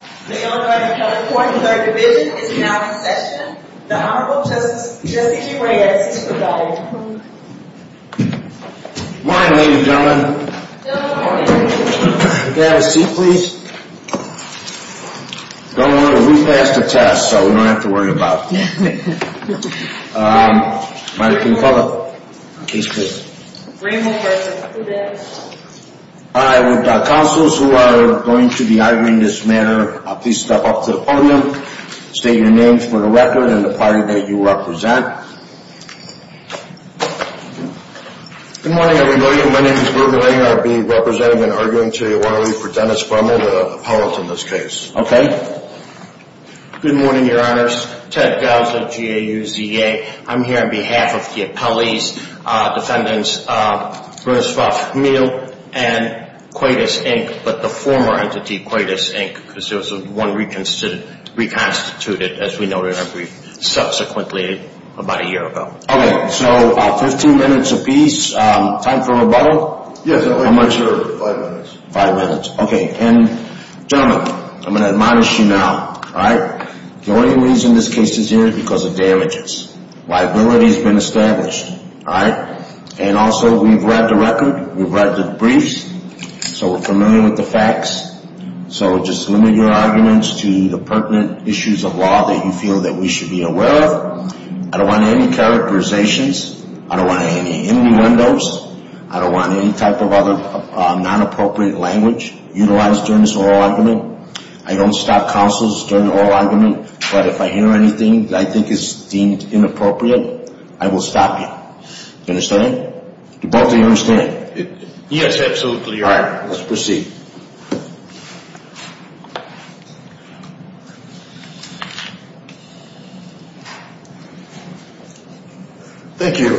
The Illinois County Court and Third Division is now in session. The Honorable Justice Jesse Reyes is presiding. Good morning, ladies and gentlemen. Good morning. May I have a seat, please? Don't worry, we passed the test, so we don't have to worry about it. Might I get a follow-up case, please? Bremel v. Quedas. I would, uh, counselors who are going to be arguing this matter, please step up to the podium. State your names for the record and the party that you represent. Good morning, everybody. My name is Bert Lang. I'll be representing and arguing today, why don't we, for Dennis Bremel, the appellate in this case. Okay. Good morning, your honors. Ted Gauss at GAUZA. I'm here on behalf of the appellee's defendants, Bruce Ruff Meal and Quedas, Inc., but the former entity, Quedas, Inc., because there was one reconstituted, as we noted in our brief, subsequently about a year ago. Okay, so 15 minutes apiece. Time for rebuttal? Yes, Your Honor. How much? Five minutes. Five minutes, okay. And, gentlemen, I'm going to admonish you now, all right? The only reason this case is here is because of damages. Liability has been established, all right? And also, we've read the record. We've read the briefs, so we're familiar with the facts. So just limit your arguments to the pertinent issues of law that you feel that we should be aware of. I don't want any characterizations. I don't want any innuendos. I don't want any type of other non-appropriate language utilized during this oral argument. I don't stop counsels during the oral argument, but if I hear anything that I think is deemed inappropriate, I will stop you. Do you understand? Do both of you understand? Yes, absolutely, Your Honor. All right, let's proceed. Thank you.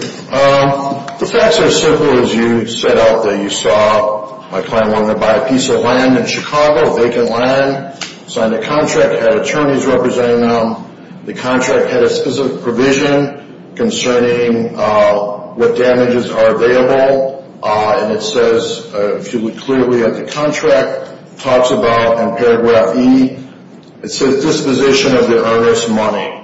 The facts are as simple as you set out that you saw. My client wanted to buy a piece of land in Chicago, vacant land, signed a contract, had attorneys representing them. The contract had a specific provision concerning what damages are available. And it says, if you look clearly at the contract, it talks about in paragraph E, it says disposition of the earnest money.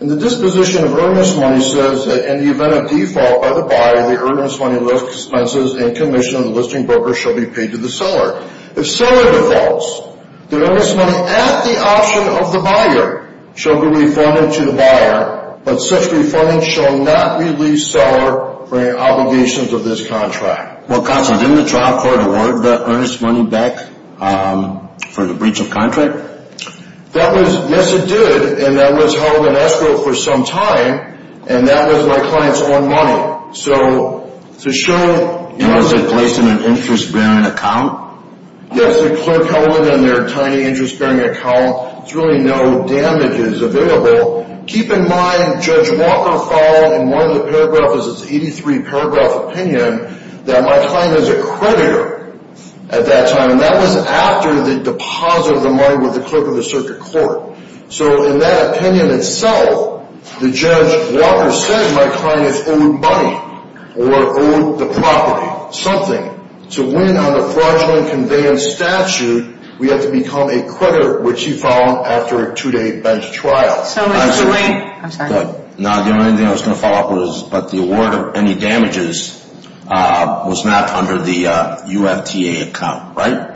And the disposition of earnest money says that in the event of default by the buyer, the earnest money list expenses and commission of the listing broker shall be paid to the seller. If seller defaults, the earnest money at the option of the buyer shall be reformed to the buyer, but such reforming shall not relieve seller from the obligations of this contract. Well, counsel, didn't the trial court award the earnest money back for the breach of contract? That was, yes, it did. And that was held in escrow for some time, and that was my client's own money. So to show... And was it placed in an interest-bearing account? Yes, they're clear-coded in their tiny interest-bearing account. There's really no damages available. Keep in mind, Judge Walker followed, and one of the paragraphs is his 83-paragraph opinion, that my client is a creditor at that time. And that was after the deposit of the money with the clerk of the circuit court. So in that opinion itself, the Judge Walker said my client is owed money or owed the property, something. To win on a fraudulent conveyance statute, we have to become a creditor, which he found after a two-day bench trial. I'm sorry. No, the only thing I was going to follow up with is, but the award of any damages was not under the UFTA account, right?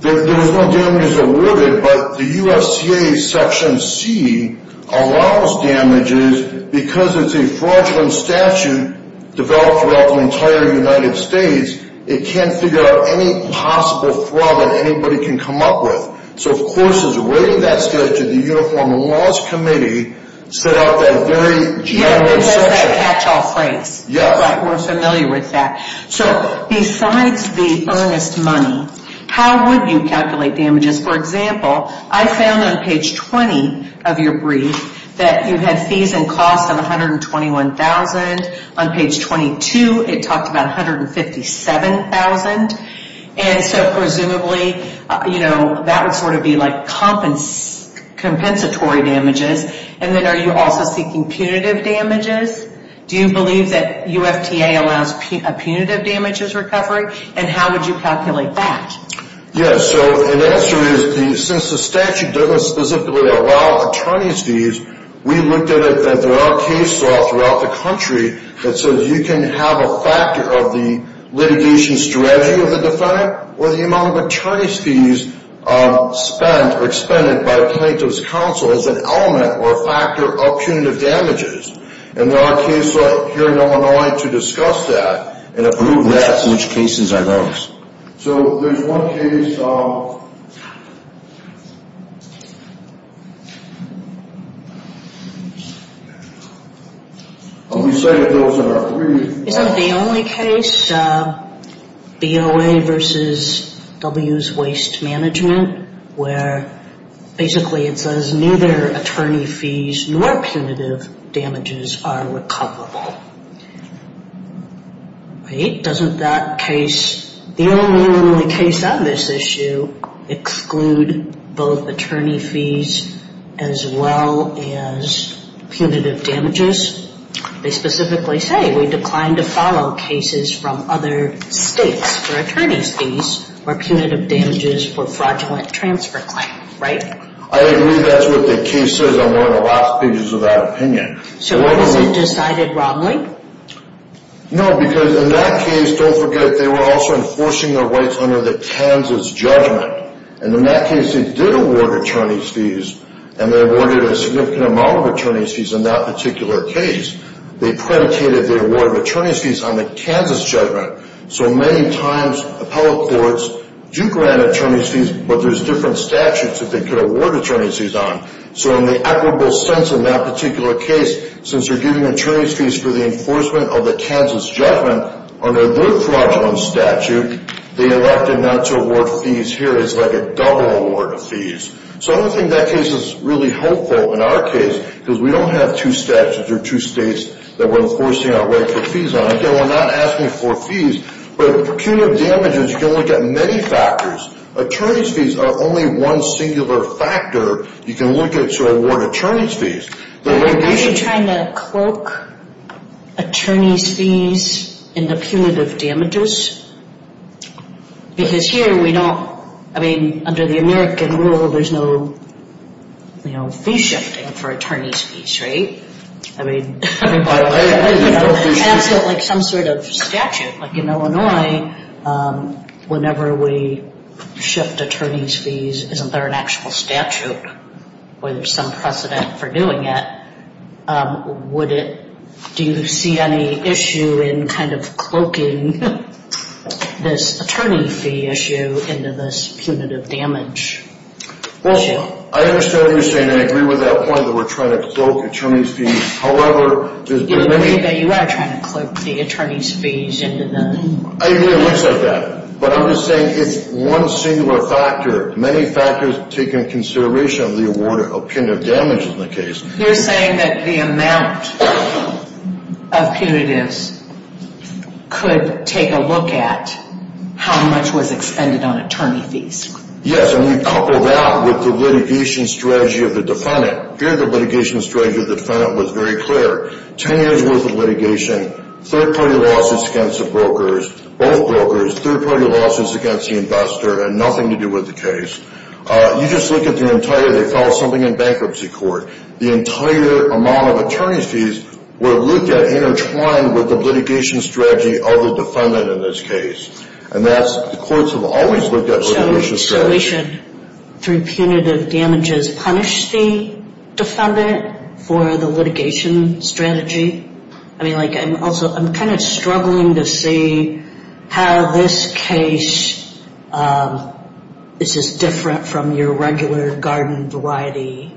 There was no damages awarded, but the UFTA Section C allows damages because it's a fraudulent statute developed throughout the entire United States. It can't figure out any possible fraud that anybody can come up with. So of course, as a way of that statute, the Uniform Laws Committee set up that very general section. Yeah, because of that catch-all phrase. Yes. Right, we're familiar with that. So besides the earnest money, how would you calculate damages? For example, I found on page 20 of your brief that you had fees and costs of $121,000. On page 22, it talked about $157,000. So presumably, that would sort of be like compensatory damages. And then are you also seeking punitive damages? Do you believe that UFTA allows punitive damages recovery? And how would you calculate that? Yes. So the answer is, since the statute doesn't specifically allow attorneys to use, we looked at it that there are cases throughout the country that says you can have a factor of the litigation strategy of the defendant or the amount of attorney's fees spent or expended by a plaintiff's counsel as an element or a factor of punitive damages. And there are cases here in Illinois to discuss that and approve that. Which cases are those? So there's one case. We cited those in our brief. Isn't it the only case, BOA versus W's Waste Management, where basically it says neither attorney fees nor punitive damages are recoverable? Right? Doesn't that case, the only case on this issue, exclude both attorney fees as well as punitive damages? They specifically say we declined to follow cases from other states for attorney's fees or punitive damages for fraudulent transfer claim. I agree that's what the case says on one of the last pages of that opinion. So what is it decided wrongly? No, because in that case, don't forget, they were also enforcing their rights under the Kansas judgment. And in that case, they did award attorney's fees, and they awarded a significant amount of attorney's fees in that particular case. They predicated the award of attorney's fees on the Kansas judgment. So many times, appellate courts do grant attorney's fees, but there's different statutes that they could award attorney's fees on. So in the equitable sense in that particular case, since they're giving attorney's fees for the enforcement of the Kansas judgment under their fraudulent statute, they elected not to award fees here. It's like a double award of fees. So I don't think that case is really helpful in our case because we don't have two statutes or two states that we're enforcing our right for fees on. Again, we're not asking for fees, but punitive damages, you can look at many factors. Attorney's fees are only one singular factor you can look at to award attorney's fees. Are you trying to cloak attorney's fees in the punitive damages? Because here we don't, I mean, under the American rule, there's no, you know, fee shifting for attorney's fees, right? I mean, like some sort of statute. Like in Illinois, whenever we shift attorney's fees, isn't there an actual statute where there's some precedent for doing it? Do you see any issue in kind of cloaking this attorney fee issue into this punitive damage issue? Well, I understand what you're saying. I agree with that point that we're trying to cloak attorney's fees. However, there's been a... You believe that you are trying to cloak the attorney's fees into the... I agree with that. But I'm just saying it's one singular factor. Many factors take into consideration the award of punitive damages in the case. You're saying that the amount of punitives could take a look at how much was expended on attorney fees. Yes, and we've coupled that with the litigation strategy of the defendant. Here the litigation strategy of the defendant was very clear. Ten years' worth of litigation, third-party lawsuits against the brokers, both brokers, third-party lawsuits against the investor, and nothing to do with the case. You just look at the entire, they filed something in bankruptcy court. The entire amount of attorney's fees were looked at intertwined with the litigation strategy of the defendant in this case. And that's, the courts have always looked at litigation strategy. So we should, through punitive damages, punish the defendant for the litigation strategy? I mean, like, I'm also, I'm kind of struggling to see how this case is just different from your regular garden variety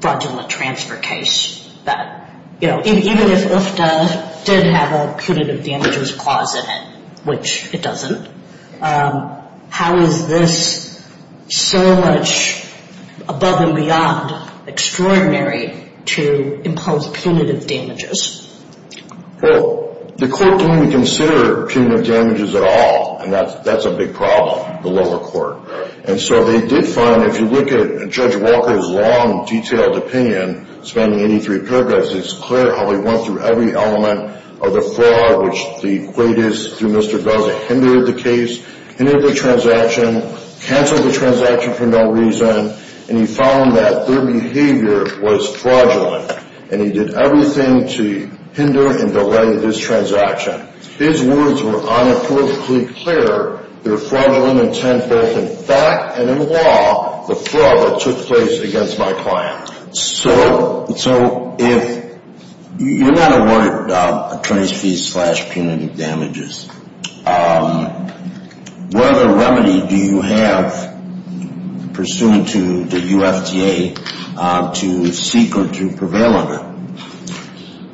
fraudulent transfer case. That, you know, even if UFTA did have a punitive damages clause in it, which it doesn't, how is this so much above and beyond extraordinary to impose punitive damages? Well, the court didn't consider punitive damages at all, and that's a big problem, the lower court. And so they did find, if you look at Judge Walker's long, detailed opinion spanning 83 paragraphs, it's clear how he went through every element of the fraud, which the plaintiffs, through Mr. Dozza, hindered the case, hindered the transaction, canceled the transaction for no reason, and he found that their behavior was fraudulent. And he did everything to hinder and delay this transaction. His words were unapologetically clear. They're fraudulent intent both in fact and in law, the fraud that took place against my client. So if you're not awarded attorney's fees slash punitive damages, what other remedy do you have pursuant to the UFTA to seek or to prevail under?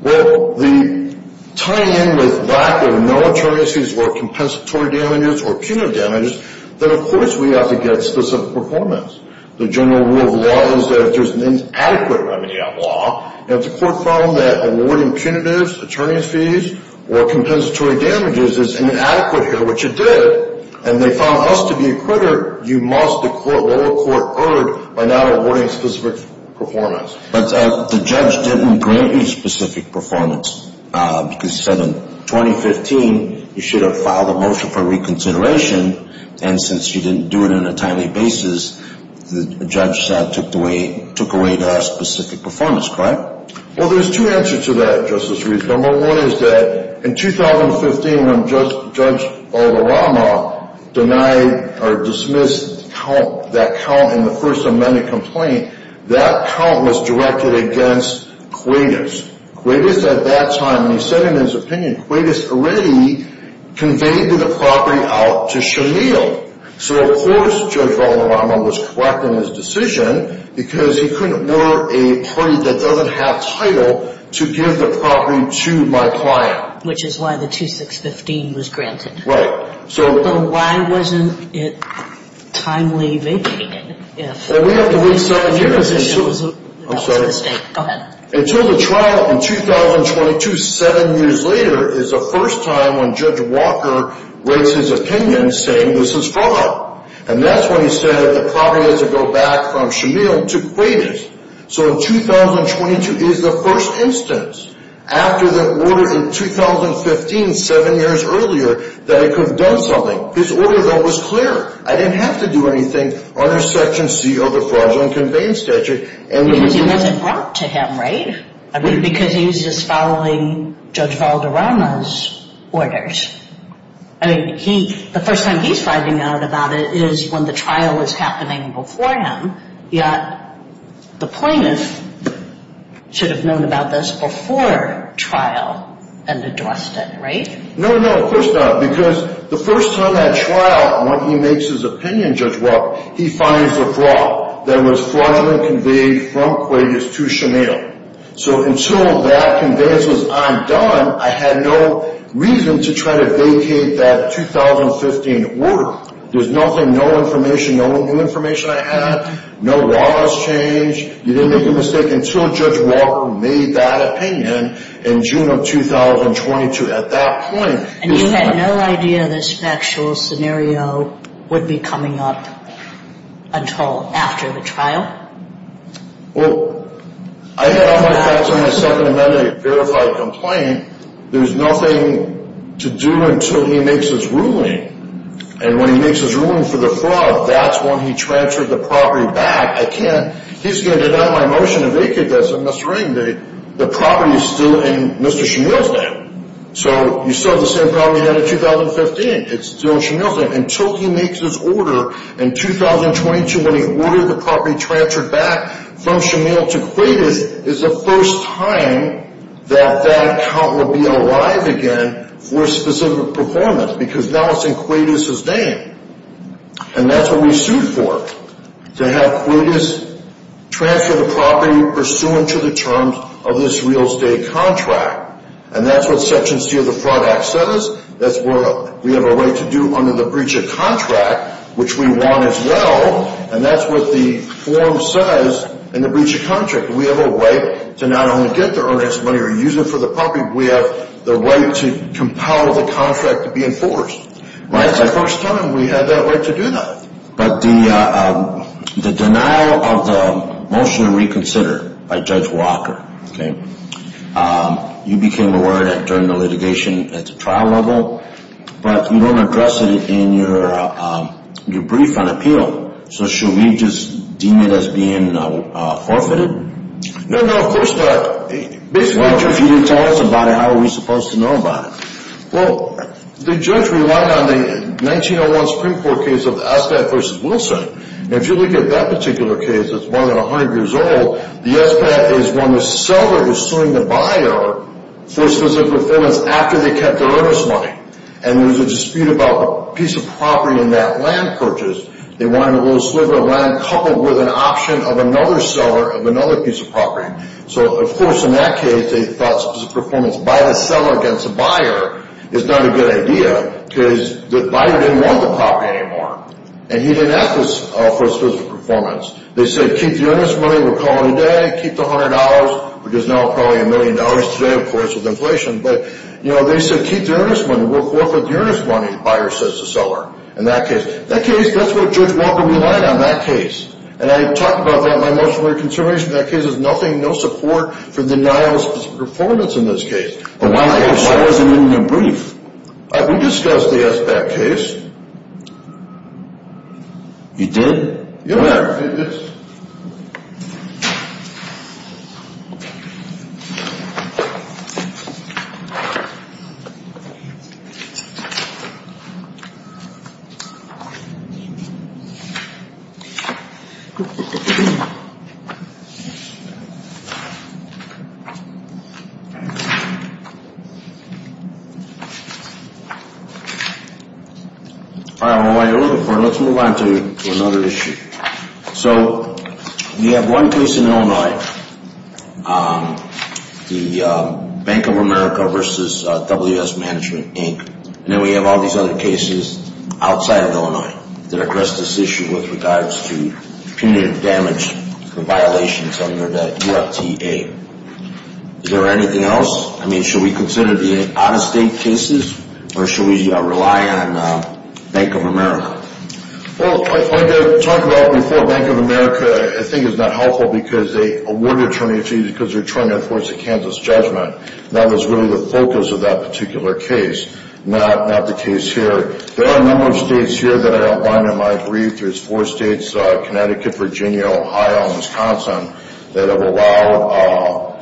Well, the tying in with lack of no attorney's fees or compensatory damages or punitive damages, then of course we have to get specific performance. The general rule of law is that if there's an inadequate remedy on law, and if the court found that awarding punitives, attorney's fees, or compensatory damages is inadequate here, which it did, and they found us to be a critter, you must, the lower court, erred by not awarding specific performance. But the judge didn't grant you specific performance because he said in 2015 you should have filed a motion for reconsideration, and since you didn't do it on a timely basis, the judge said took away the specific performance, correct? Well, there's two answers to that, Justice Reed. Number one is that in 2015 when Judge Alderama denied or dismissed that count in the first amended complaint, that count was directed against Quaidus. Quaidus at that time, and he said in his opinion, Quaidus already conveyed the property out to Shamil. So of course Judge Alderama was correct in his decision because he couldn't order a party that doesn't have title to give the property to my client. Which is why the 2615 was granted. Right. But why wasn't it timely vacated? Well, we have to wait seven years until the trial in 2022, seven years later, is the first time when Judge Walker makes his opinion saying this is fraud. And that's when he said the property has to go back from Shamil to Quaidus. So in 2022 is the first instance after the order in 2015, seven years earlier, that it could have done something. His order, though, was clear. I didn't have to do anything under Section C of the Fraudulent Conveyance Statute. Because it wasn't brought to him, right? Because he was just following Judge Alderama's orders. I mean, the first time he's finding out about it is when the trial is happening before him. Yet the plaintiff should have known about this before trial and addressed it, right? No, no, of course not. Because the first time at trial when he makes his opinion, Judge Walker, he finds a fraud that was fraudulently conveyed from Quaidus to Shamil. So until that conveyance was undone, I had no reason to try to vacate that 2015 order. There was nothing, no information, no new information I had. No laws changed. You didn't make a mistake until Judge Walker made that opinion in June of 2022. And you had no idea this factual scenario would be coming up until after the trial? Well, I had on my facts on the Second Amendment a verified complaint. There was nothing to do until he makes his ruling. And when he makes his ruling for the fraud, that's when he transferred the property back. I can't. He's going to deny my motion to vacate this. The property is still in Mr. Shamil's name. So you still have the same property you had in 2015. It's still in Shamil's name. Until he makes his order in 2022 when he ordered the property transferred back from Shamil to Quaidus, it's the first time that that account will be alive again for a specific performance. Because now it's in Quaidus' name. And that's what we sued for, to have Quaidus transfer the property pursuant to the terms of this real estate contract. And that's what Section C of the Fraud Act says. That's what we have a right to do under the breach of contract, which we want as well. And that's what the form says in the breach of contract. We have a right to not only get the earnest money or use it for the property, we have the right to compel the contract to be enforced. Right? It's the first time we had that right to do that. But the denial of the motion to reconsider by Judge Walker, okay, you became aware of that during the litigation at the trial level, but you don't address it in your brief on appeal. So should we just deem it as being forfeited? No, no, of course not. Well, if you didn't tell us about it, how are we supposed to know about it? Well, the judge relied on the 1901 Supreme Court case of the SBAT v. Wilson. And if you look at that particular case, it's more than 100 years old. The SBAT is when the seller is suing the buyer for specific performance after they kept their earnest money. And there was a dispute about a piece of property in that land purchase. They wanted a little sliver of land coupled with an option of another seller of another piece of property. So, of course, in that case they thought specific performance by the seller against the buyer is not a good idea because the buyer didn't want the property anymore. And he didn't ask for specific performance. They said keep the earnest money we're calling today, keep the $100, which is now probably a million dollars today, of course, with inflation. But, you know, they said keep the earnest money. We'll forfeit the earnest money, the buyer says to the seller in that case. In that case, that's what Judge Walker relied on, that case. And I talked about that in my motion to reconsideration. That case has nothing, no support for denial of performance in this case. But why wasn't it in your brief? We discussed the SBAT case. You did? Yes, I did. All right, well, while you're looking for it, let's move on to another issue. So we have one case in Illinois, the Bank of America versus WS Management, Inc. And then we have all these other cases outside of Illinois that address this issue with regards to punitive damage violations under the UFTA. Is there anything else? I mean, should we consider the out-of-state cases, or should we rely on Bank of America? Well, like I talked about before, Bank of America, I think, is not helpful because they award an attorney to you because they're trying to enforce a Kansas judgment. That was really the focus of that particular case, not the case here. There are a number of states here that I outlined in my brief. There's four states, Connecticut, Virginia, Ohio, and Wisconsin, that have allowed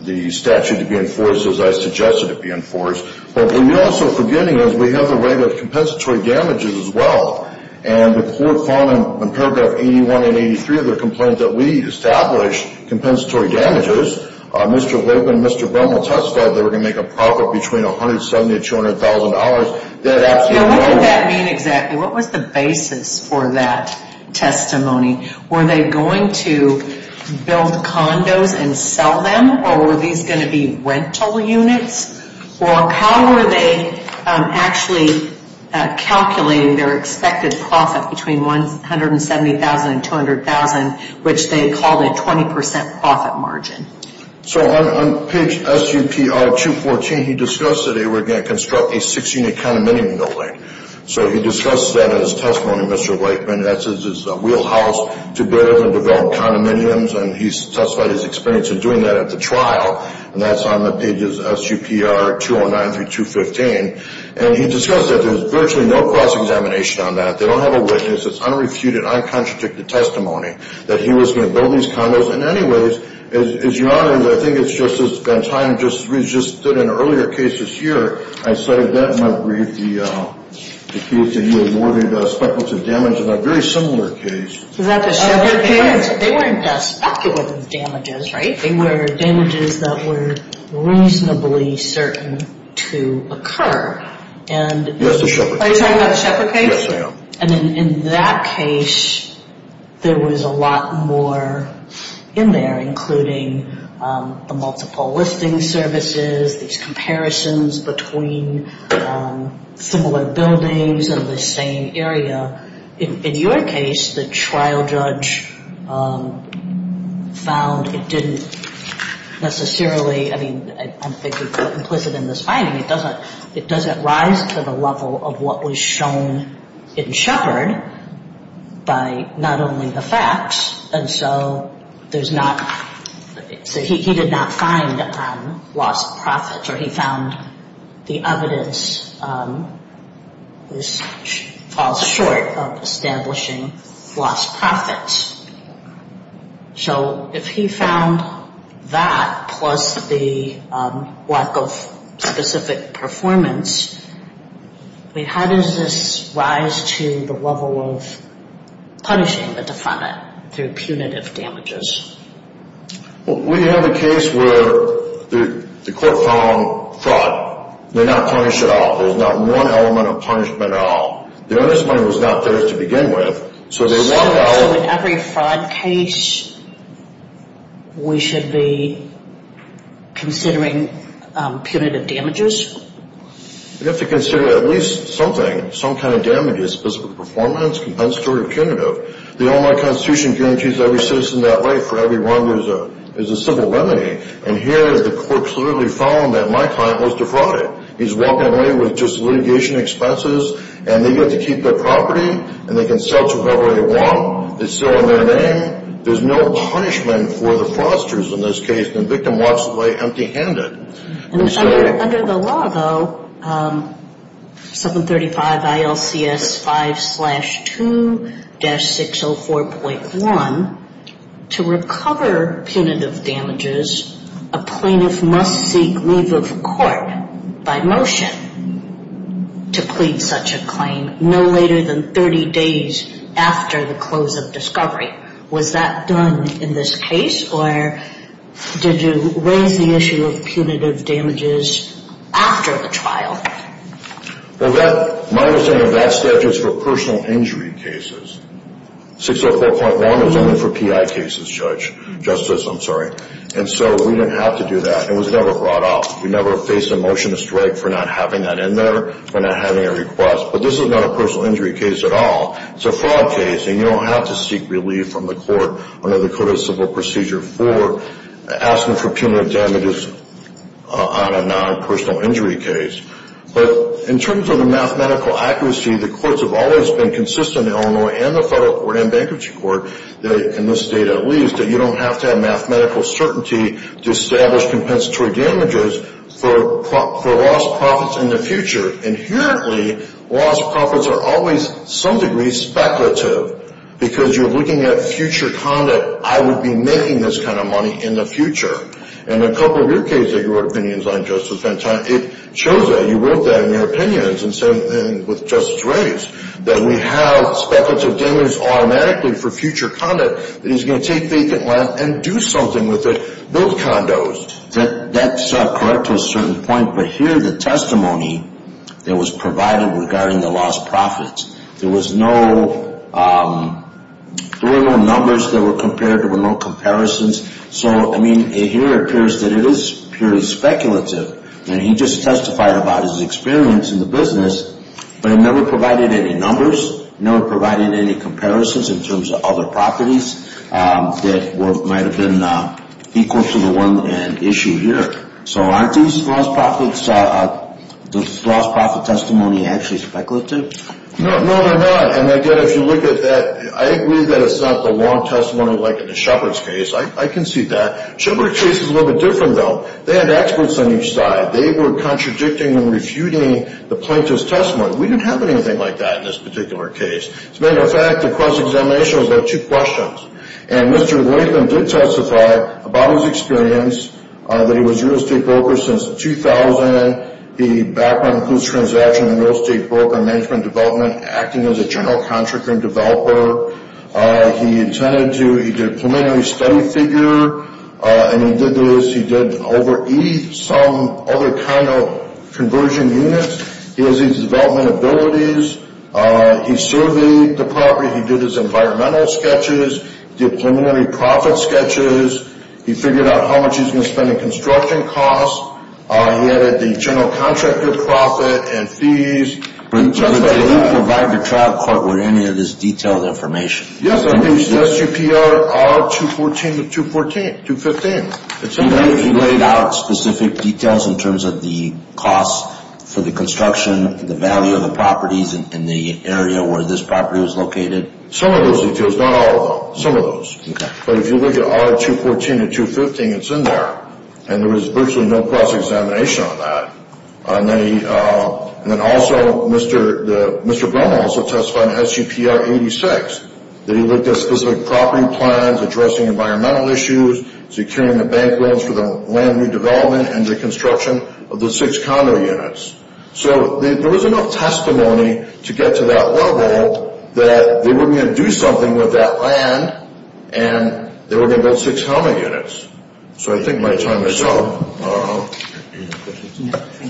the statute to be enforced as I suggested it be enforced. But what we're also forgetting is we have the right of compensatory damages as well. And the court found in paragraph 81 and 83 of their complaint that we established compensatory damages. Mr. Logan and Mr. Brummel testified they were going to make a profit between $170,000 and $200,000. Now, what did that mean exactly? What was the basis for that testimony? Were they going to build condos and sell them, or were these going to be rental units? Or how were they actually calculating their expected profit between $170,000 and $200,000, which they called a 20 percent profit margin? So on page SUPR 214, he discussed that they were going to construct a six-unit condominium in the lake. So he discussed that in his testimony, Mr. Blakeman. That's his wheelhouse to build and develop condominiums. And he testified his experience in doing that at the trial. And that's on the pages SUPR 209 through 215. And he discussed that there's virtually no cross-examination on that. They don't have a witness. It's unrefuted, uncontradicted testimony that he was going to build these condos. And anyways, as your Honor, I think it's just that time just stood in earlier cases here. I cited that in my brief, the case that you awarded speculative damage in a very similar case. Is that the Shepard case? They weren't speculative damages, right? They were damages that were reasonably certain to occur. Yes, the Shepard case. Are you talking about the Shepard case? Yes, ma'am. And in that case, there was a lot more in there, including the multiple listing services, these comparisons between similar buildings of the same area. In your case, the trial judge found it didn't necessarily, I mean, I'm thinking implicit in this finding, it doesn't rise to the level of what was shown in Shepard by not only the facts, and so he did not find lost profits, or he found the evidence falls short of establishing lost profits. So if he found that plus the lack of specific performance, I mean, how does this rise to the level of punishing the defendant through punitive damages? Well, we have a case where the court found fraud. They're not punished at all. There's not one element of punishment at all. The earnest money was not there to begin with, so they walked out. So in every fraud case, we should be considering punitive damages? We have to consider at least something, some kind of damage, a specific performance, compensatory or punitive. The Illinois Constitution guarantees every citizen that right for every wrong is a civil remedy, and here the court clearly found that my client was defrauded. He's walking away with just litigation expenses, and they get to keep their property, and they can sell to whoever they want. It's still in their name. There's no punishment for the fraudsters in this case, and the victim walks away empty-handed. Under the law, though, 735 ILCS 5-2-604.1, to recover punitive damages, a plaintiff must seek leave of court by motion to plead such a claim no later than 30 days after the close of discovery. Was that done in this case, or did you raise the issue of punitive damages after the trial? Well, my understanding of that statute is for personal injury cases. 604.1 is only for PI cases, Justice. And so we didn't have to do that, and it was never brought up. We never faced a motion to strike for not having that in there, for not having a request. But this is not a personal injury case at all. It's a fraud case, and you don't have to seek relief from the court under the Code of Civil Procedure for asking for punitive damages on a non-personal injury case. But in terms of the mathematical accuracy, the courts have always been consistent in Illinois and the Federal Court and Bankruptcy Court, in this state at least, that you don't have to have mathematical certainty to establish compensatory damages for lost profits in the future. Inherently, lost profits are always, to some degree, speculative, because you're looking at future conduct. I would be making this kind of money in the future. In a couple of your cases that you wrote opinions on, Justice, it shows that. You wrote that in your opinions with Justice Reyes, that we have speculative damages automatically for future conduct, that he's going to take vacant land and do something with it, build condos. That's correct to a certain point, but here the testimony that was provided regarding the lost profits, there were no numbers that were compared. There were no comparisons. So, I mean, it here appears that it is purely speculative, and he just testified about his experience in the business, but it never provided any numbers, never provided any comparisons in terms of other properties that might have been equal to the one at issue here. So aren't these lost profits, the lost profit testimony actually speculative? No, they're not, and again, if you look at that, I agree that it's not the long testimony like in the Shepard's case. I can see that. Shepard's case is a little bit different, though. They had experts on each side. They were contradicting and refuting the plaintiff's testimony. We didn't have anything like that in this particular case. As a matter of fact, the cross-examination was about two questions, and Mr. Latham did testify about his experience, that he was a real estate broker since 2000. He background includes transaction in real estate broker management and development, acting as a general contractor and developer. He did a preliminary study figure, and he did this. He did some other kind of conversion units. He has these development abilities. He surveyed the property. He did his environmental sketches, did preliminary profit sketches. He figured out how much he was going to spend in construction costs. He added the general contractor profit and fees. Did you provide the trial court with any of this detailed information? Yes, I did. SGPR R214 to 215. Did you lay out specific details in terms of the costs for the construction, the value of the properties in the area where this property was located? Some of those details, not all of them, some of those. But if you look at R214 to 215, it's in there, and there was virtually no cross-examination on that. And then also, Mr. Bono also testified in SGPR R86 that he looked at specific property plans, addressing environmental issues, securing the bank loans for the land redevelopment and the construction of the six condo units. So there was enough testimony to get to that level that they were going to do something with that land, and they were going to build six helmet units. So I think my time is up.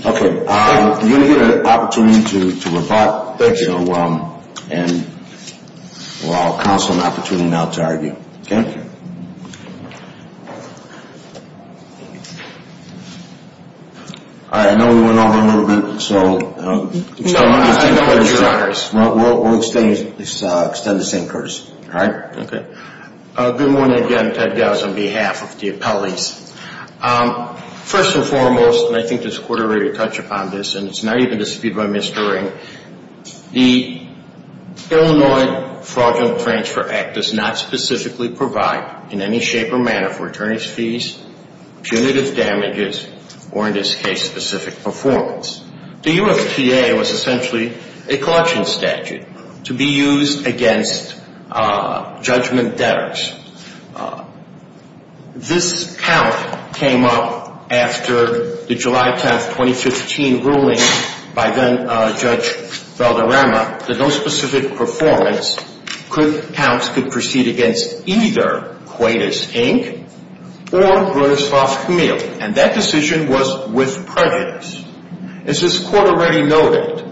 Okay. You're going to get an opportunity to rebut. Thank you. And we'll allow counsel an opportunity now to argue. Okay? All right. I know we went over a little bit, so we'll extend the same courtesy. All right? Okay. Good morning again. Ted Gause on behalf of the appellees. First and foremost, and I think this Court already touched upon this, and it's not even disputed by Mr. Ring, the Illinois Fraudulent Transfer Act does not specifically provide in any shape or manner for attorney's fees, punitive damages, or in this case, specific performance. The UFTA was essentially a collection statute to be used against judgment debtors. This count came up after the July 10, 2015, ruling by then-Judge Valderrama that no specific performance counts could proceed against either Quaidus, Inc. or Bronislaus Camille, and that decision was with prejudice. As this Court already noted,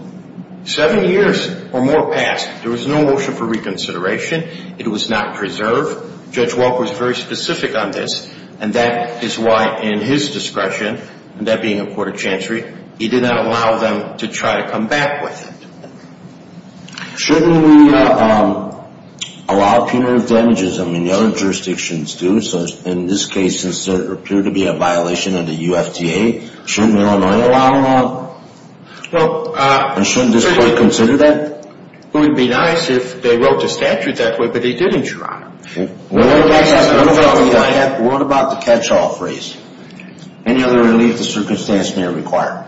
seven years or more passed, there was no motion for reconsideration. It was not preserved. Judge Walker was very specific on this, and that is why in his discretion, and that being a court of chancery, he did not allow them to try to come back with it. Shouldn't we allow punitive damages? I mean, the other jurisdictions do, so in this case, since there appeared to be a violation of the UFTA, shouldn't Illinois allow them? Shouldn't this Court consider that? It would be nice if they wrote the statute that way, but they didn't, Your Honor. What about the catch-all phrase? Any other relief the circumstance may require?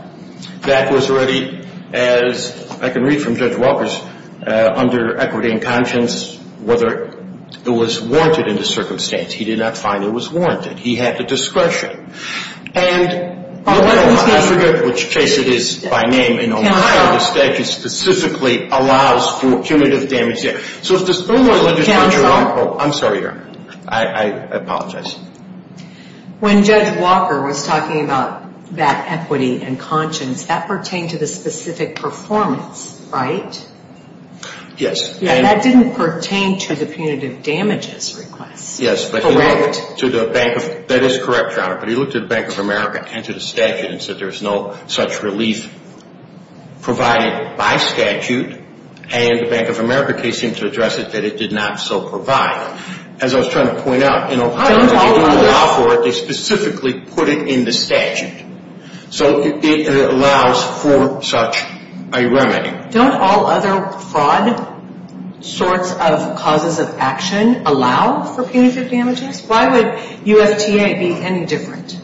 That was already, as I can read from Judge Walker's under-equity-in-conscience, whether it was warranted in the circumstance. He did not find it was warranted. He had the discretion. And I forget which case it is by name. In Ohio, the statute specifically allows for punitive damages. So if there's no more legislation, Your Honor. I'm sorry, Your Honor. I apologize. When Judge Walker was talking about that equity and conscience, that pertained to the specific performance, right? Yes. And that didn't pertain to the punitive damages request. Yes. Correct. That is correct, Your Honor, but he looked at Bank of America and to the statute and said there's no such relief provided by statute, and the Bank of America case seemed to address it that it did not so provide. As I was trying to point out, in Ohio, they don't allow for it. They specifically put it in the statute. So it allows for such a remedy. Don't all other fraud sorts of causes of action allow for punitive damages? Why would UFTA be any different?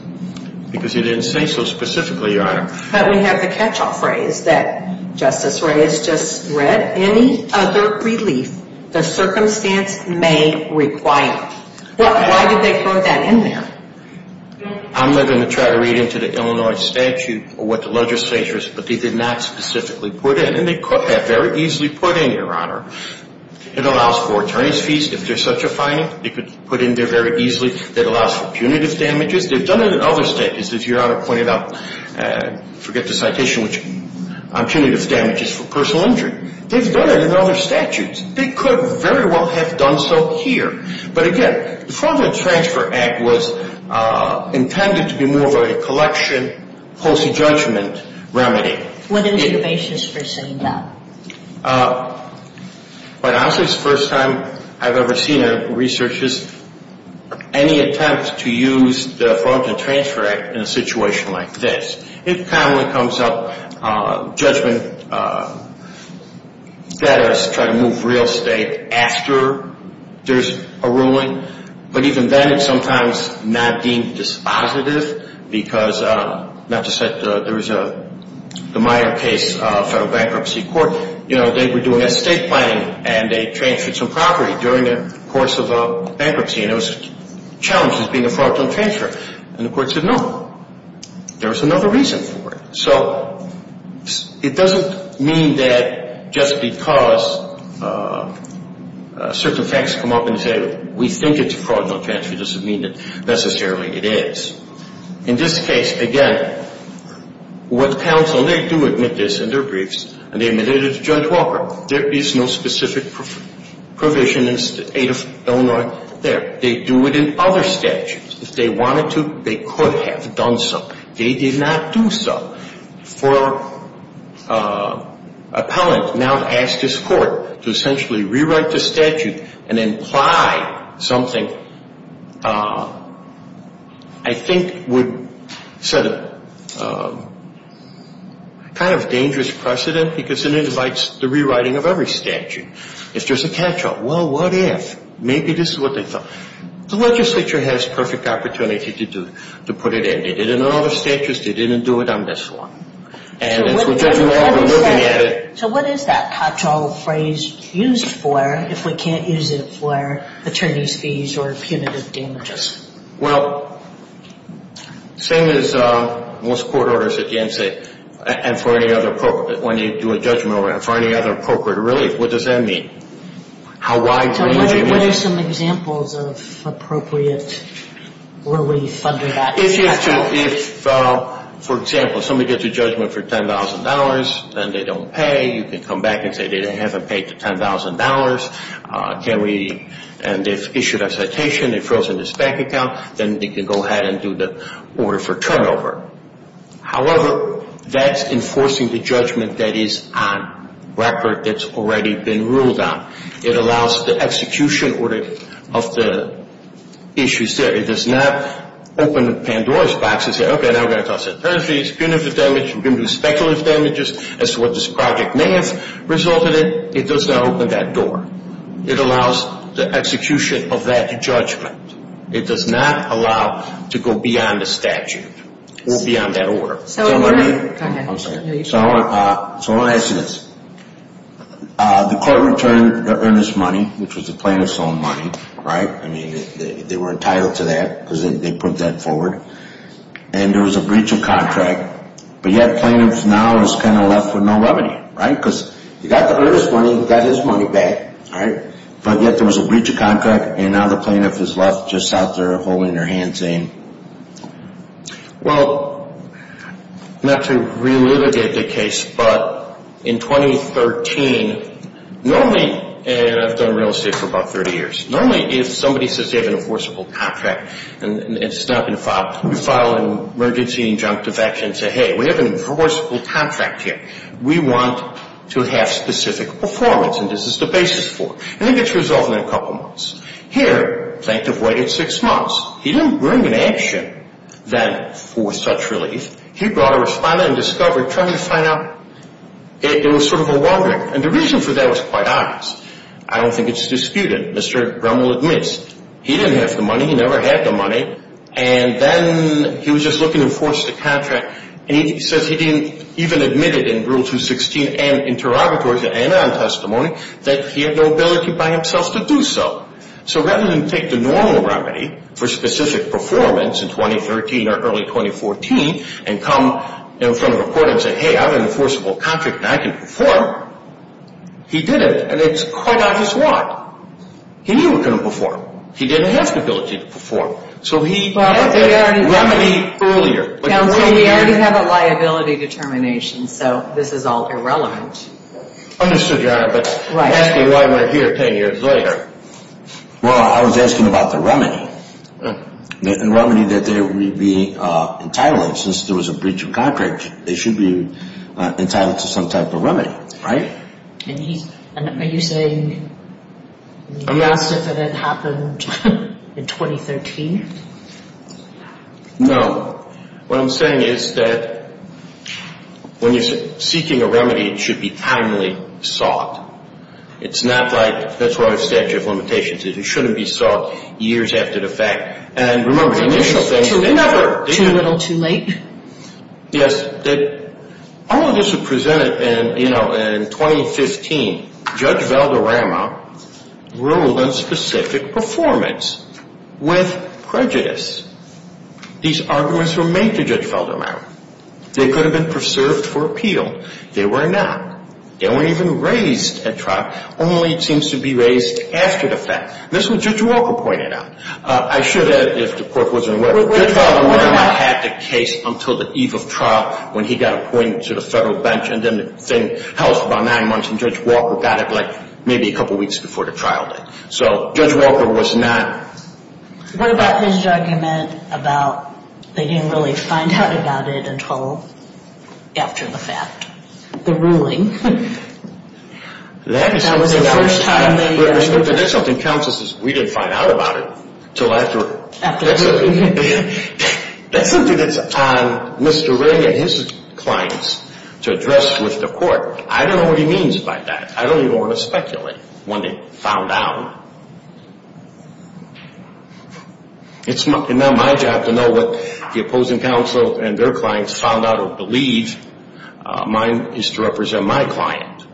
Because he didn't say so specifically, Your Honor. But we have the catch-all phrase that Justice Reyes just read. That any other relief the circumstance may require. Why did they put that in there? I'm going to try to read into the Illinois statute or what the legislature said, but they did not specifically put it in. And they could have very easily put it in, Your Honor. It allows for attorney's fees if there's such a finding. They could put it in there very easily. It allows for punitive damages. They've done it in other statutes, as Your Honor pointed out. I forget the citation, which punitive damages for personal injury. They've done it in other statutes. They could very well have done so here. But, again, the Fraud and Transfer Act was intended to be more of a collection post-judgment remedy. What is your basis for saying that? Quite honestly, it's the first time I've ever seen a researcher's any attempt to use the Fraud and Transfer Act in a situation like this. It commonly comes up judgment that is trying to move real estate after there's a ruling. But even then, it's sometimes not deemed dispositive because, not to say there was a In the Meyer case, federal bankruptcy court, you know, they were doing estate planning and they transferred some property during the course of a bankruptcy, and it was challenged as being a fraudulent transfer. And the court said no. There was another reason for it. So it doesn't mean that just because certain facts come up and say we think it's a fraudulent transfer, it doesn't mean that necessarily it is. In this case, again, what counsel, they do admit this in their briefs, and they admitted it to Judge Walker. There is no specific provision in the State of Illinois there. They do it in other statutes. If they wanted to, they could have done so. They did not do so. For an appellant now to ask his court to essentially re-write the statute and imply something, I think, would set a kind of dangerous precedent because it invites the rewriting of every statute. If there's a catch-all, well, what if? Maybe this is what they thought. The legislature has perfect opportunity to put it in. They did it in other statutes. They didn't do it on this one. So what is that catch-all phrase used for if we can't use it for attorney's fees or punitive damages? Well, same as most court orders at the end say, and for any other appropriate, when you do a judgment over it, and for any other appropriate relief, what does that mean? How wide is the image? What are some examples of appropriate relief under that catch-all? If, for example, somebody gets a judgment for $10,000 and they don't pay, you can come back and say they haven't paid the $10,000, and they've issued a citation, they've frozen this bank account, then they can go ahead and do the order for turnover. However, that's enforcing the judgment that is on record that's already been ruled on. It allows the execution order of the issues there. It does not open Pandora's box and say, okay, now we're going to talk about attorney's fees, punitive damages, we're going to do speculative damages as to what this project may have resulted in. It does not open that door. It allows the execution of that judgment. It does not allow to go beyond the statute or beyond that order. So I want to ask you this. The court returned the earnest money, which was the plaintiff's own money, right? I mean, they were entitled to that because they put that forward. And there was a breach of contract, but yet plaintiff now is kind of left with no remedy, right? Because he got the earnest money, he got his money back, right? But yet there was a breach of contract, and now the plaintiff is left just out there holding her hand saying, well, not to relitigate the case, but in 2013, normally, and I've done real estate for about 30 years, normally if somebody says they have an enforceable contract and it's not going to file, we file an emergency injunctive action and say, hey, we have an enforceable contract here. We want to have specific performance, and this is the basis for it. And it gets resolved in a couple months. Here, plaintiff waited six months. He didn't bring an action then for such relief. He brought a respondent and discovered, trying to find out, it was sort of a wonder. And the reason for that was quite obvious. I don't think it's disputed. Mr. Gremmel admits he didn't have the money. He never had the money. And then he was just looking to enforce the contract, and he says he didn't even admit it in Rule 216 and interrogatories and anon testimony that he had no ability by himself to do so. So rather than take the normal remedy for specific performance in 2013 or early 2014 and come in front of a court and say, hey, I have an enforceable contract and I can perform, he didn't. And it's quite obvious why. He knew he couldn't perform. He didn't have the ability to perform. So he had the remedy earlier. Counsel, we already have a liability determination, so this is all irrelevant. Understood, Your Honor. But asking why we're here 10 years later. Well, I was asking about the remedy. The remedy that they would be entitled, since there was a breach of contract, they should be entitled to some type of remedy, right? And are you saying, yes, if it had happened in 2013? No. What I'm saying is that when you're seeking a remedy, it should be timely sought. It's not like that's what a statute of limitations is. It shouldn't be sought years after the fact. And remember, the initial things, they never. Too little, too late? Yes. All of this was presented in 2015. Judge Valderrama ruled on specific performance with prejudice. These arguments were made to Judge Valderrama. They could have been preserved for appeal. They were not. They weren't even raised at trial, only it seems to be raised after the fact. This is what Judge Walker pointed out. I should add, if the court wasn't aware, Judge Valderrama had the case until the eve of trial, when he got appointed to the federal bench, and then the thing held for about nine months, and Judge Walker got it, like, maybe a couple weeks before the trial date. So Judge Walker was not. What about his argument about they didn't really find out about it until after the fact? The ruling? That was the first time they... Until after... That's something that's on Mr. Ray and his clients to address with the court. I don't know what he means by that. I don't even want to speculate when they found out. It's now my job to know what the opposing counsel and their clients found out or believe. Mine is to represent my client.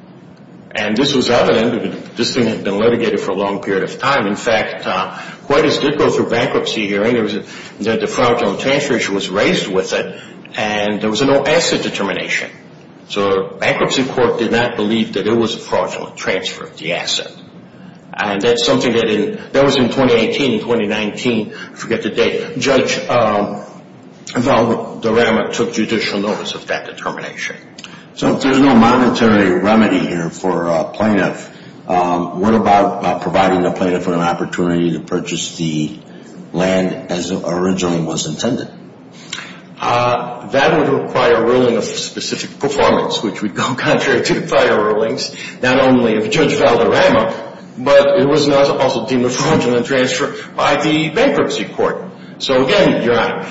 And this was evident. This thing had been litigated for a long period of time. In fact, quite as did go through bankruptcy hearings, that the fraudulent transfer issue was raised with it, and there was no asset determination. So the bankruptcy court did not believe that it was a fraudulent transfer of the asset. And that's something that in... That was in 2018 and 2019. I forget the date. Judge Valderrama took judicial notice of that determination. So if there's no monetary remedy here for a plaintiff, what about providing the plaintiff with an opportunity to purchase the land as originally was intended? That would require a ruling of specific performance, which would go contrary to prior rulings, not only of Judge Valderrama, but it was not also deemed a fraudulent transfer by the bankruptcy court. So, again, Your Honor.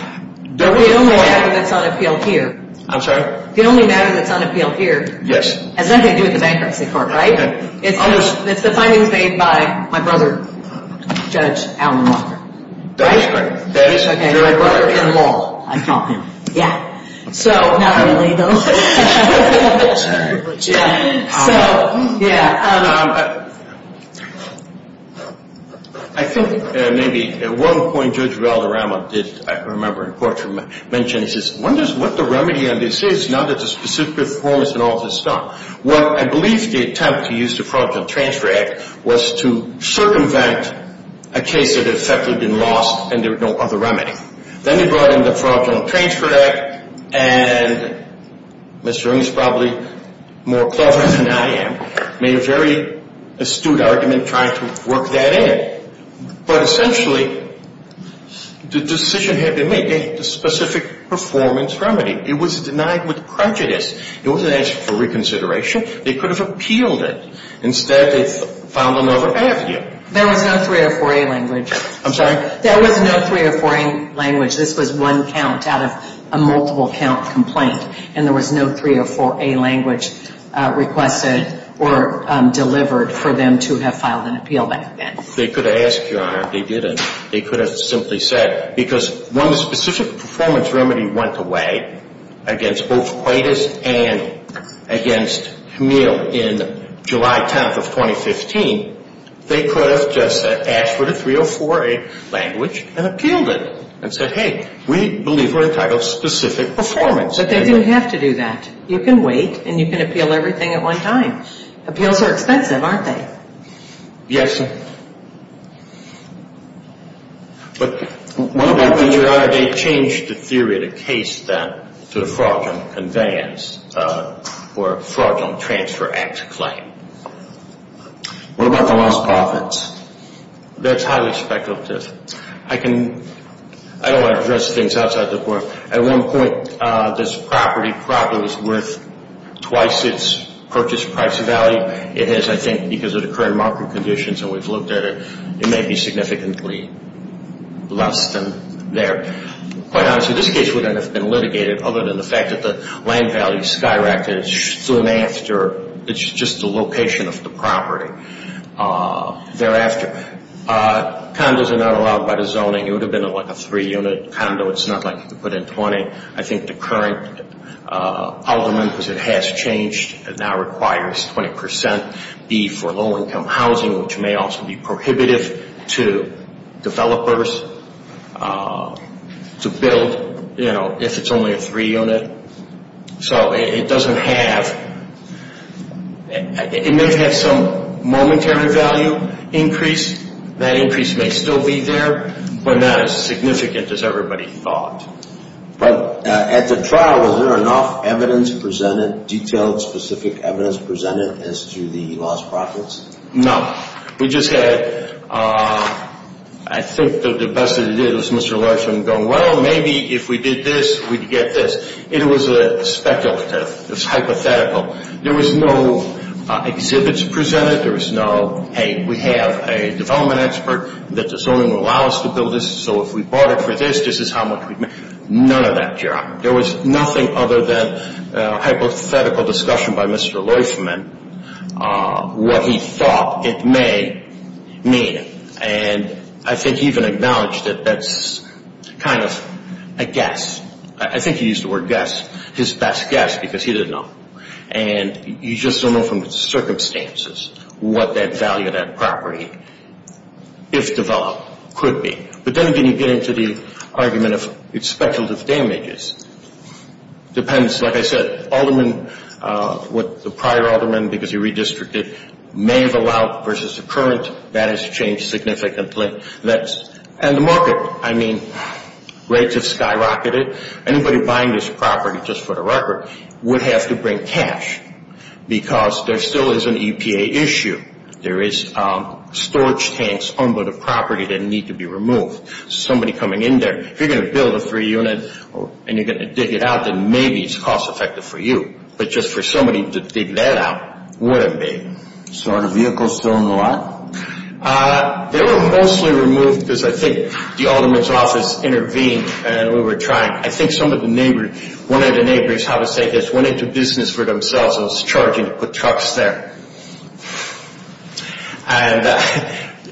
The only matter that's on appeal here. I'm sorry? The only matter that's on appeal here. Yes. Has nothing to do with the bankruptcy court, right? It's the findings made by my brother, Judge Alan Walker. That is correct. That is correct. Your brother-in-law, I call him. Yeah. So... Not really, though. Sorry. So, yeah. I think maybe at one point Judge Valderrama did, I remember in court, mention, he says, what the remedy on this is now that the specific performance and all is stopped. Well, I believe the attempt to use the Fraudulent Transfer Act was to circumvent a case that had effectively been lost and there was no other remedy. Then they brought in the Fraudulent Transfer Act, and Mr. Eames, probably more clever than I am, made a very astute argument trying to work that in. But, essentially, the decision had been made, the specific performance remedy. It was denied with prejudice. It wasn't asked for reconsideration. They could have appealed it. Instead, they filed another avenue. There was no 304A language. I'm sorry? There was no 304A language. This was one count out of a multiple count complaint, and there was no 304A language requested or delivered for them to have filed an appeal back then. They could have asked, Your Honor. They didn't. They could have simply said, because when the specific performance remedy went away, against both Quaidus and against Hameel in July 10th of 2015, they could have just asked for the 304A language and appealed it and said, Hey, we believe we're entitled to specific performance. But they didn't have to do that. You can wait, and you can appeal everything at one time. Appeals are expensive, aren't they? Yes. But what about when, Your Honor, they changed the theory of the case then to a fraudulent conveyance or a fraudulent transfer act claim? What about the lost profits? That's highly speculative. I don't want to address things outside the court. At one point, this property probably was worth twice its purchase price value. It is, I think, because of the current market conditions and we've looked at it, it may be significantly less than there. Quite honestly, this case wouldn't have been litigated other than the fact that the land value skyrocketed soon after. It's just the location of the property thereafter. Condos are not allowed by the zoning. It would have been like a three-unit condo. It's not like you could put in 20. I think the current alderman, because it has changed, it now requires 20% be for low-income housing, which may also be prohibitive to developers to build, you know, if it's only a three-unit. So it doesn't have – it may have some momentary value increase. That increase may still be there, but not as significant as everybody thought. But at the trial, was there enough evidence presented, detailed specific evidence presented as to the lost profits? No. We just had – I think the best that we did was Mr. Larson going, well, maybe if we did this, we'd get this. It was speculative. It was hypothetical. There was no exhibits presented. There was no, hey, we have a development expert that the zoning will allow us to build this, so if we barter for this, this is how much we make. None of that, Your Honor. There was nothing other than a hypothetical discussion by Mr. Leufman, what he thought it may mean. And I think he even acknowledged that that's kind of a guess. I think he used the word guess, his best guess, because he didn't know. And you just don't know from the circumstances what that value of that property, if developed, could be. But then again, you get into the argument of speculative damages. It depends. Like I said, what the prior alderman, because he redistricted, may have allowed versus the current, that has changed significantly. And the market, I mean, rates have skyrocketed. Anybody buying this property, just for the record, would have to bring cash because there still is an EPA issue. There is storage tanks on the property that need to be removed. Somebody coming in there, if you're going to build a three-unit and you're going to dig it out, then maybe it's cost-effective for you. But just for somebody to dig that out wouldn't be. So are the vehicles still in the lot? They were mostly removed because I think the alderman's office intervened and we were trying. I think some of the neighbors, one of the neighbors, how to say this, and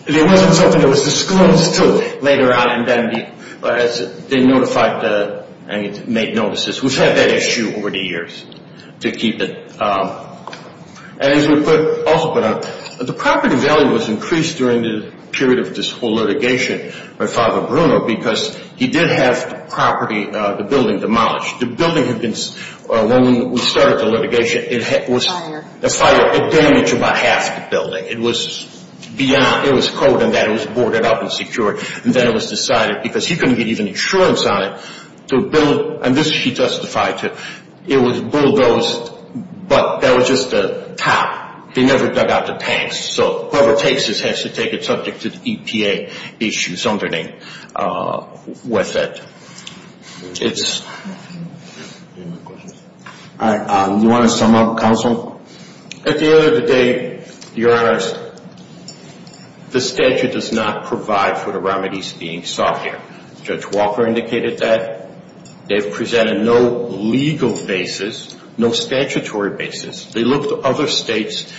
there wasn't something that was disclosed until later on and then they notified and made notices. We've had that issue over the years to keep it. And as we also put out, the property value was increased during the period of this whole litigation by Father Bruno because he did have the property, the building demolished. The building had been, when we started the litigation, it was a fire. It damaged about half the building. It was beyond. It was cold and bad. It was boarded up and secured. And then it was decided, because he couldn't get even insurance on it, to build, and this he testified to, it was bulldozed, but that was just the top. They never dug out the tanks. So whoever takes this has to take it subject to the EPA issues underneath with it. All right. You want to sum up, Counsel? At the end of the day, Your Honors, the statute does not provide for the remedies being sought here. Judge Walker indicated that. They've presented no legal basis, no statutory basis. They looked at other states,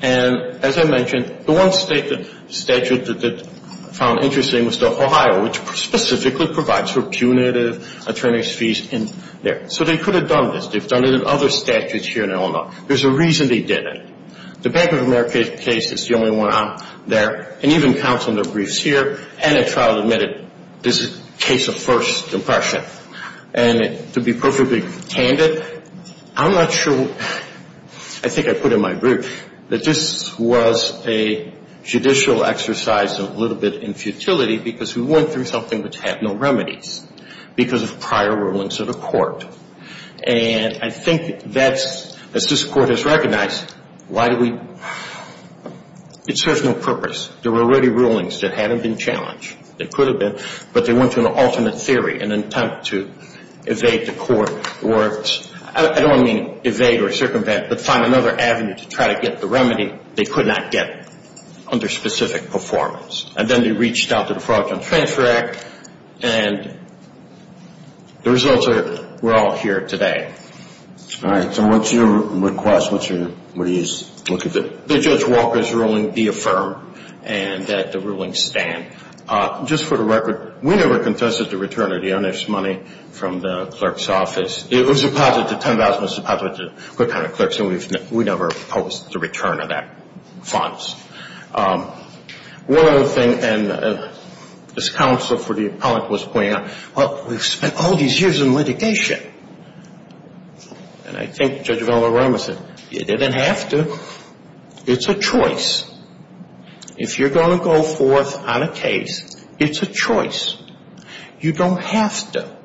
and as I mentioned, the one statute that I found interesting was the Ohio, which specifically provides for punitive attorney's fees in there. So they could have done this. They've done it in other statutes here in Illinois. There's a reason they didn't. The Bank of America case is the only one out there, and even counsel in their briefs here and at trial admitted this is a case of first impression. And to be perfectly candid, I'm not sure, I think I put in my brief, that this was a judicial exercise and a little bit in futility because we went through something which had no remedies because of prior rulings of the court. And I think that's, as this court has recognized, why do we, it serves no purpose. There were already rulings that hadn't been challenged. They could have been, but they went through an alternate theory in an attempt to evade the court or I don't mean evade or circumvent, but find another avenue to try to get the remedy they could not get under specific performance. And then they reached out to the Fraud and Transfer Act, and the results are we're all here today. All right. So what's your request? What are you looking for? The Judge Walker's ruling be affirmed and that the rulings stand. Just for the record, we never confessed to the return of the earnest money from the clerk's office. It was deposited, $10,000 was deposited to the clerk's office, and we never posted the return of that funds. One other thing, and this counsel for the appellate was pointing out, well, we've spent all these years in litigation. And I think Judge Vellarama said, you didn't have to. It's a choice. If you're going to go forth on a case, it's a choice. You don't have to.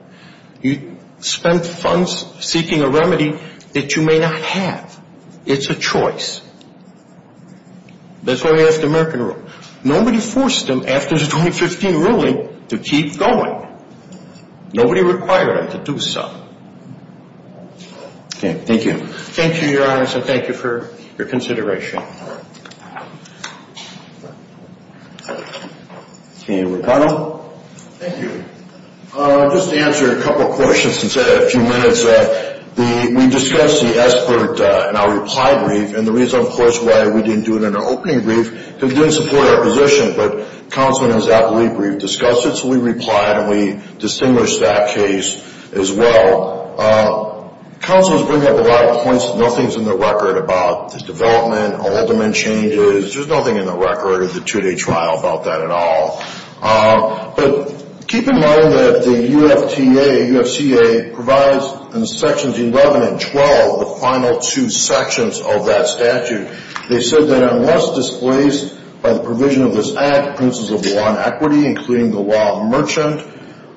You spent funds seeking a remedy that you may not have. It's a choice. That's why we have the American Rule. Nobody forced them, after the 2015 ruling, to keep going. Nobody required them to do so. Okay. Thank you. Thank you, Your Honors, and thank you for your consideration. Okay. Ricardo. Thank you. Just to answer a couple of questions since I had a few minutes. We discussed the SBIRT in our reply brief, and the reason, of course, why we didn't do it in our opening brief, because it didn't support our position. But the counsel and the appellate brief discussed it, so we replied and we distinguished that case as well. Counselors bring up a lot of points. Nothing's in the record about the development, alderman changes. There's nothing in the record of the two-day trial about that at all. But keep in mind that the UFTA, UFCA, provides in Sections 11 and 12, the final two sections of that statute. They said that unless displaced by the provision of this act, for instance, of the law on equity, including the law on merchant,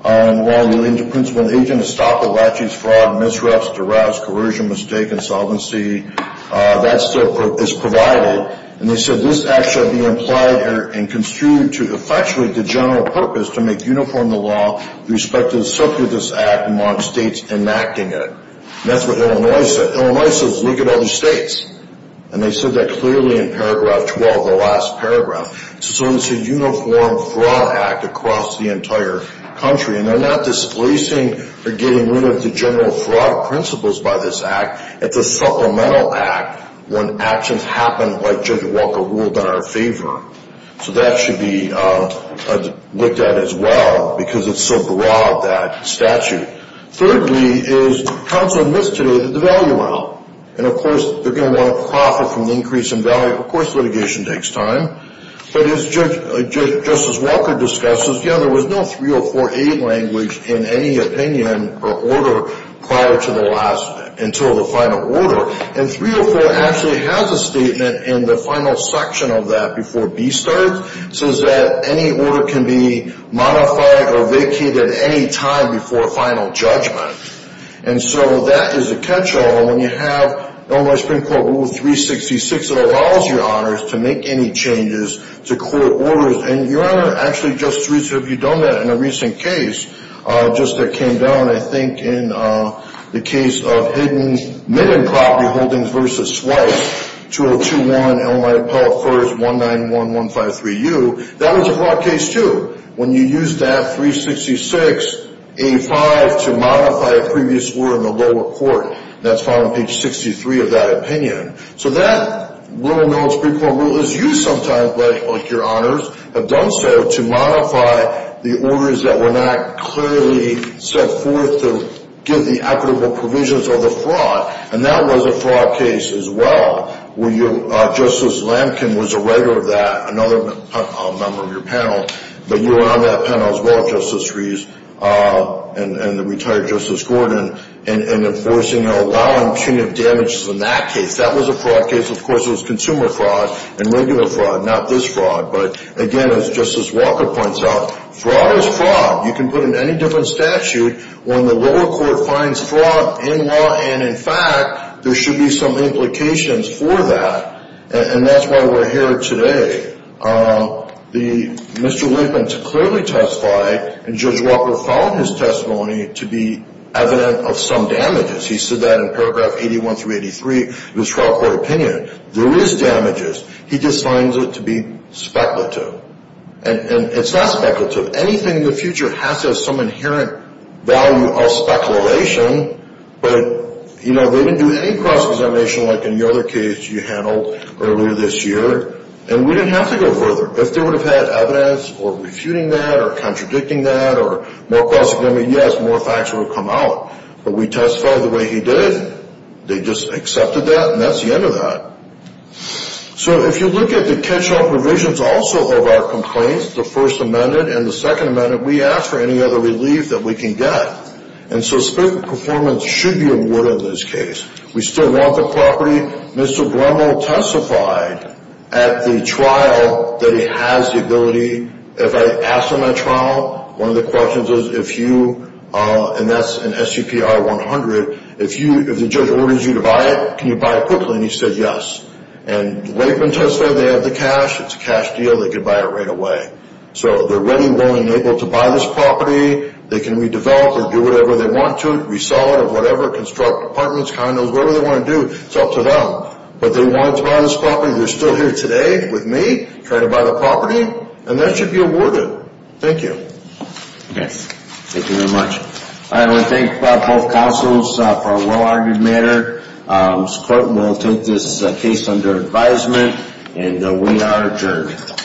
the law relating to principal and agent, estoppel, laches, fraud, misreps, duress, coercion, mistake, insolvency, that is provided. And they said this act shall be implied and construed to effectuate the general purpose to make uniform the law with respect to the circuit of this act among states enacting it. And that's what Illinois said. Illinois says look at other states. And they said that clearly in paragraph 12, the last paragraph. So it's a uniform fraud act across the entire country. And they're not displacing or getting rid of the general fraud principles by this act. It's a supplemental act when actions happen like Judge Walker ruled in our favor. So that should be looked at as well because it's so broad, that statute. Thirdly is counsel admits today that the value amount. And, of course, they're going to want to profit from the increase in value. Of course litigation takes time. But as Judge Justice Walker discusses, you know, there was no 304A language in any opinion or order prior to the last until the final order. And 304 actually has a statement in the final section of that before B starts. It says that any order can be modified or vacated at any time before final judgment. And so that is a catch-all. And when you have Illinois Supreme Court Rule 366, it allows your honors to make any changes to court orders. And your honor, actually, Justice Reese, have you done that in a recent case just that came down, I think, in the case of hidden minted property holdings versus swipes, 202-1, Illinois Appellate First, 191-153U. That was a broad case, too. When you used that 366A-5 to modify a previous order in the lower court, that's found on page 63 of that opinion. So that Illinois Supreme Court Rule is used sometimes by your honors, have done so, to modify the orders that were not clearly set forth to give the equitable provisions of the fraud. And that was a fraud case as well where Justice Lampkin was a writer of that, another member of your panel. But you were on that panel as well, Justice Reese, and the retired Justice Gordon, and enforcing and allowing punitive damages in that case. That was a fraud case. Of course, it was consumer fraud and regular fraud, not this fraud. But, again, as Justice Walker points out, fraud is fraud. You can put it in any different statute. When the lower court finds fraud in law and in fact, there should be some implications for that. And that's why we're here today. Mr. Lampkin clearly testified, and Judge Walker found his testimony to be evident of some damages. He said that in paragraph 81 through 83 of his trial court opinion. There is damages. He just finds it to be speculative. And it's not speculative. Anything in the future has to have some inherent value of speculation. But, you know, they didn't do any cross-examination like in the other case you handled earlier this year. And we didn't have to go further. If they would have had evidence for refuting that or contradicting that or more cross-examination, yes, more facts would have come out. But we testified the way he did. They just accepted that, and that's the end of that. So if you look at the catch-all provisions also of our complaints, the First Amendment and the Second Amendment, we ask for any other relief that we can get. And so speculative performance should be awarded in this case. We still want the property. Mr. Bremel testified at the trial that he has the ability. If I ask him at trial, one of the questions is if you, and that's in SCPR 100, if the judge orders you to buy it, can you buy it quickly? And he said yes. And Lakeman testified they have the cash. It's a cash deal. They could buy it right away. So they're ready, willing, and able to buy this property. They can redevelop or do whatever they want to. Resell it or whatever. Construct apartments, condos, whatever they want to do. It's up to them. But they want to buy this property. They're still here today with me trying to buy the property, and that should be awarded. Thank you. Yes. Thank you very much. I want to thank both counsels for a well-argued matter. Mr. Korten will take this case under advisement, and we are adjourned.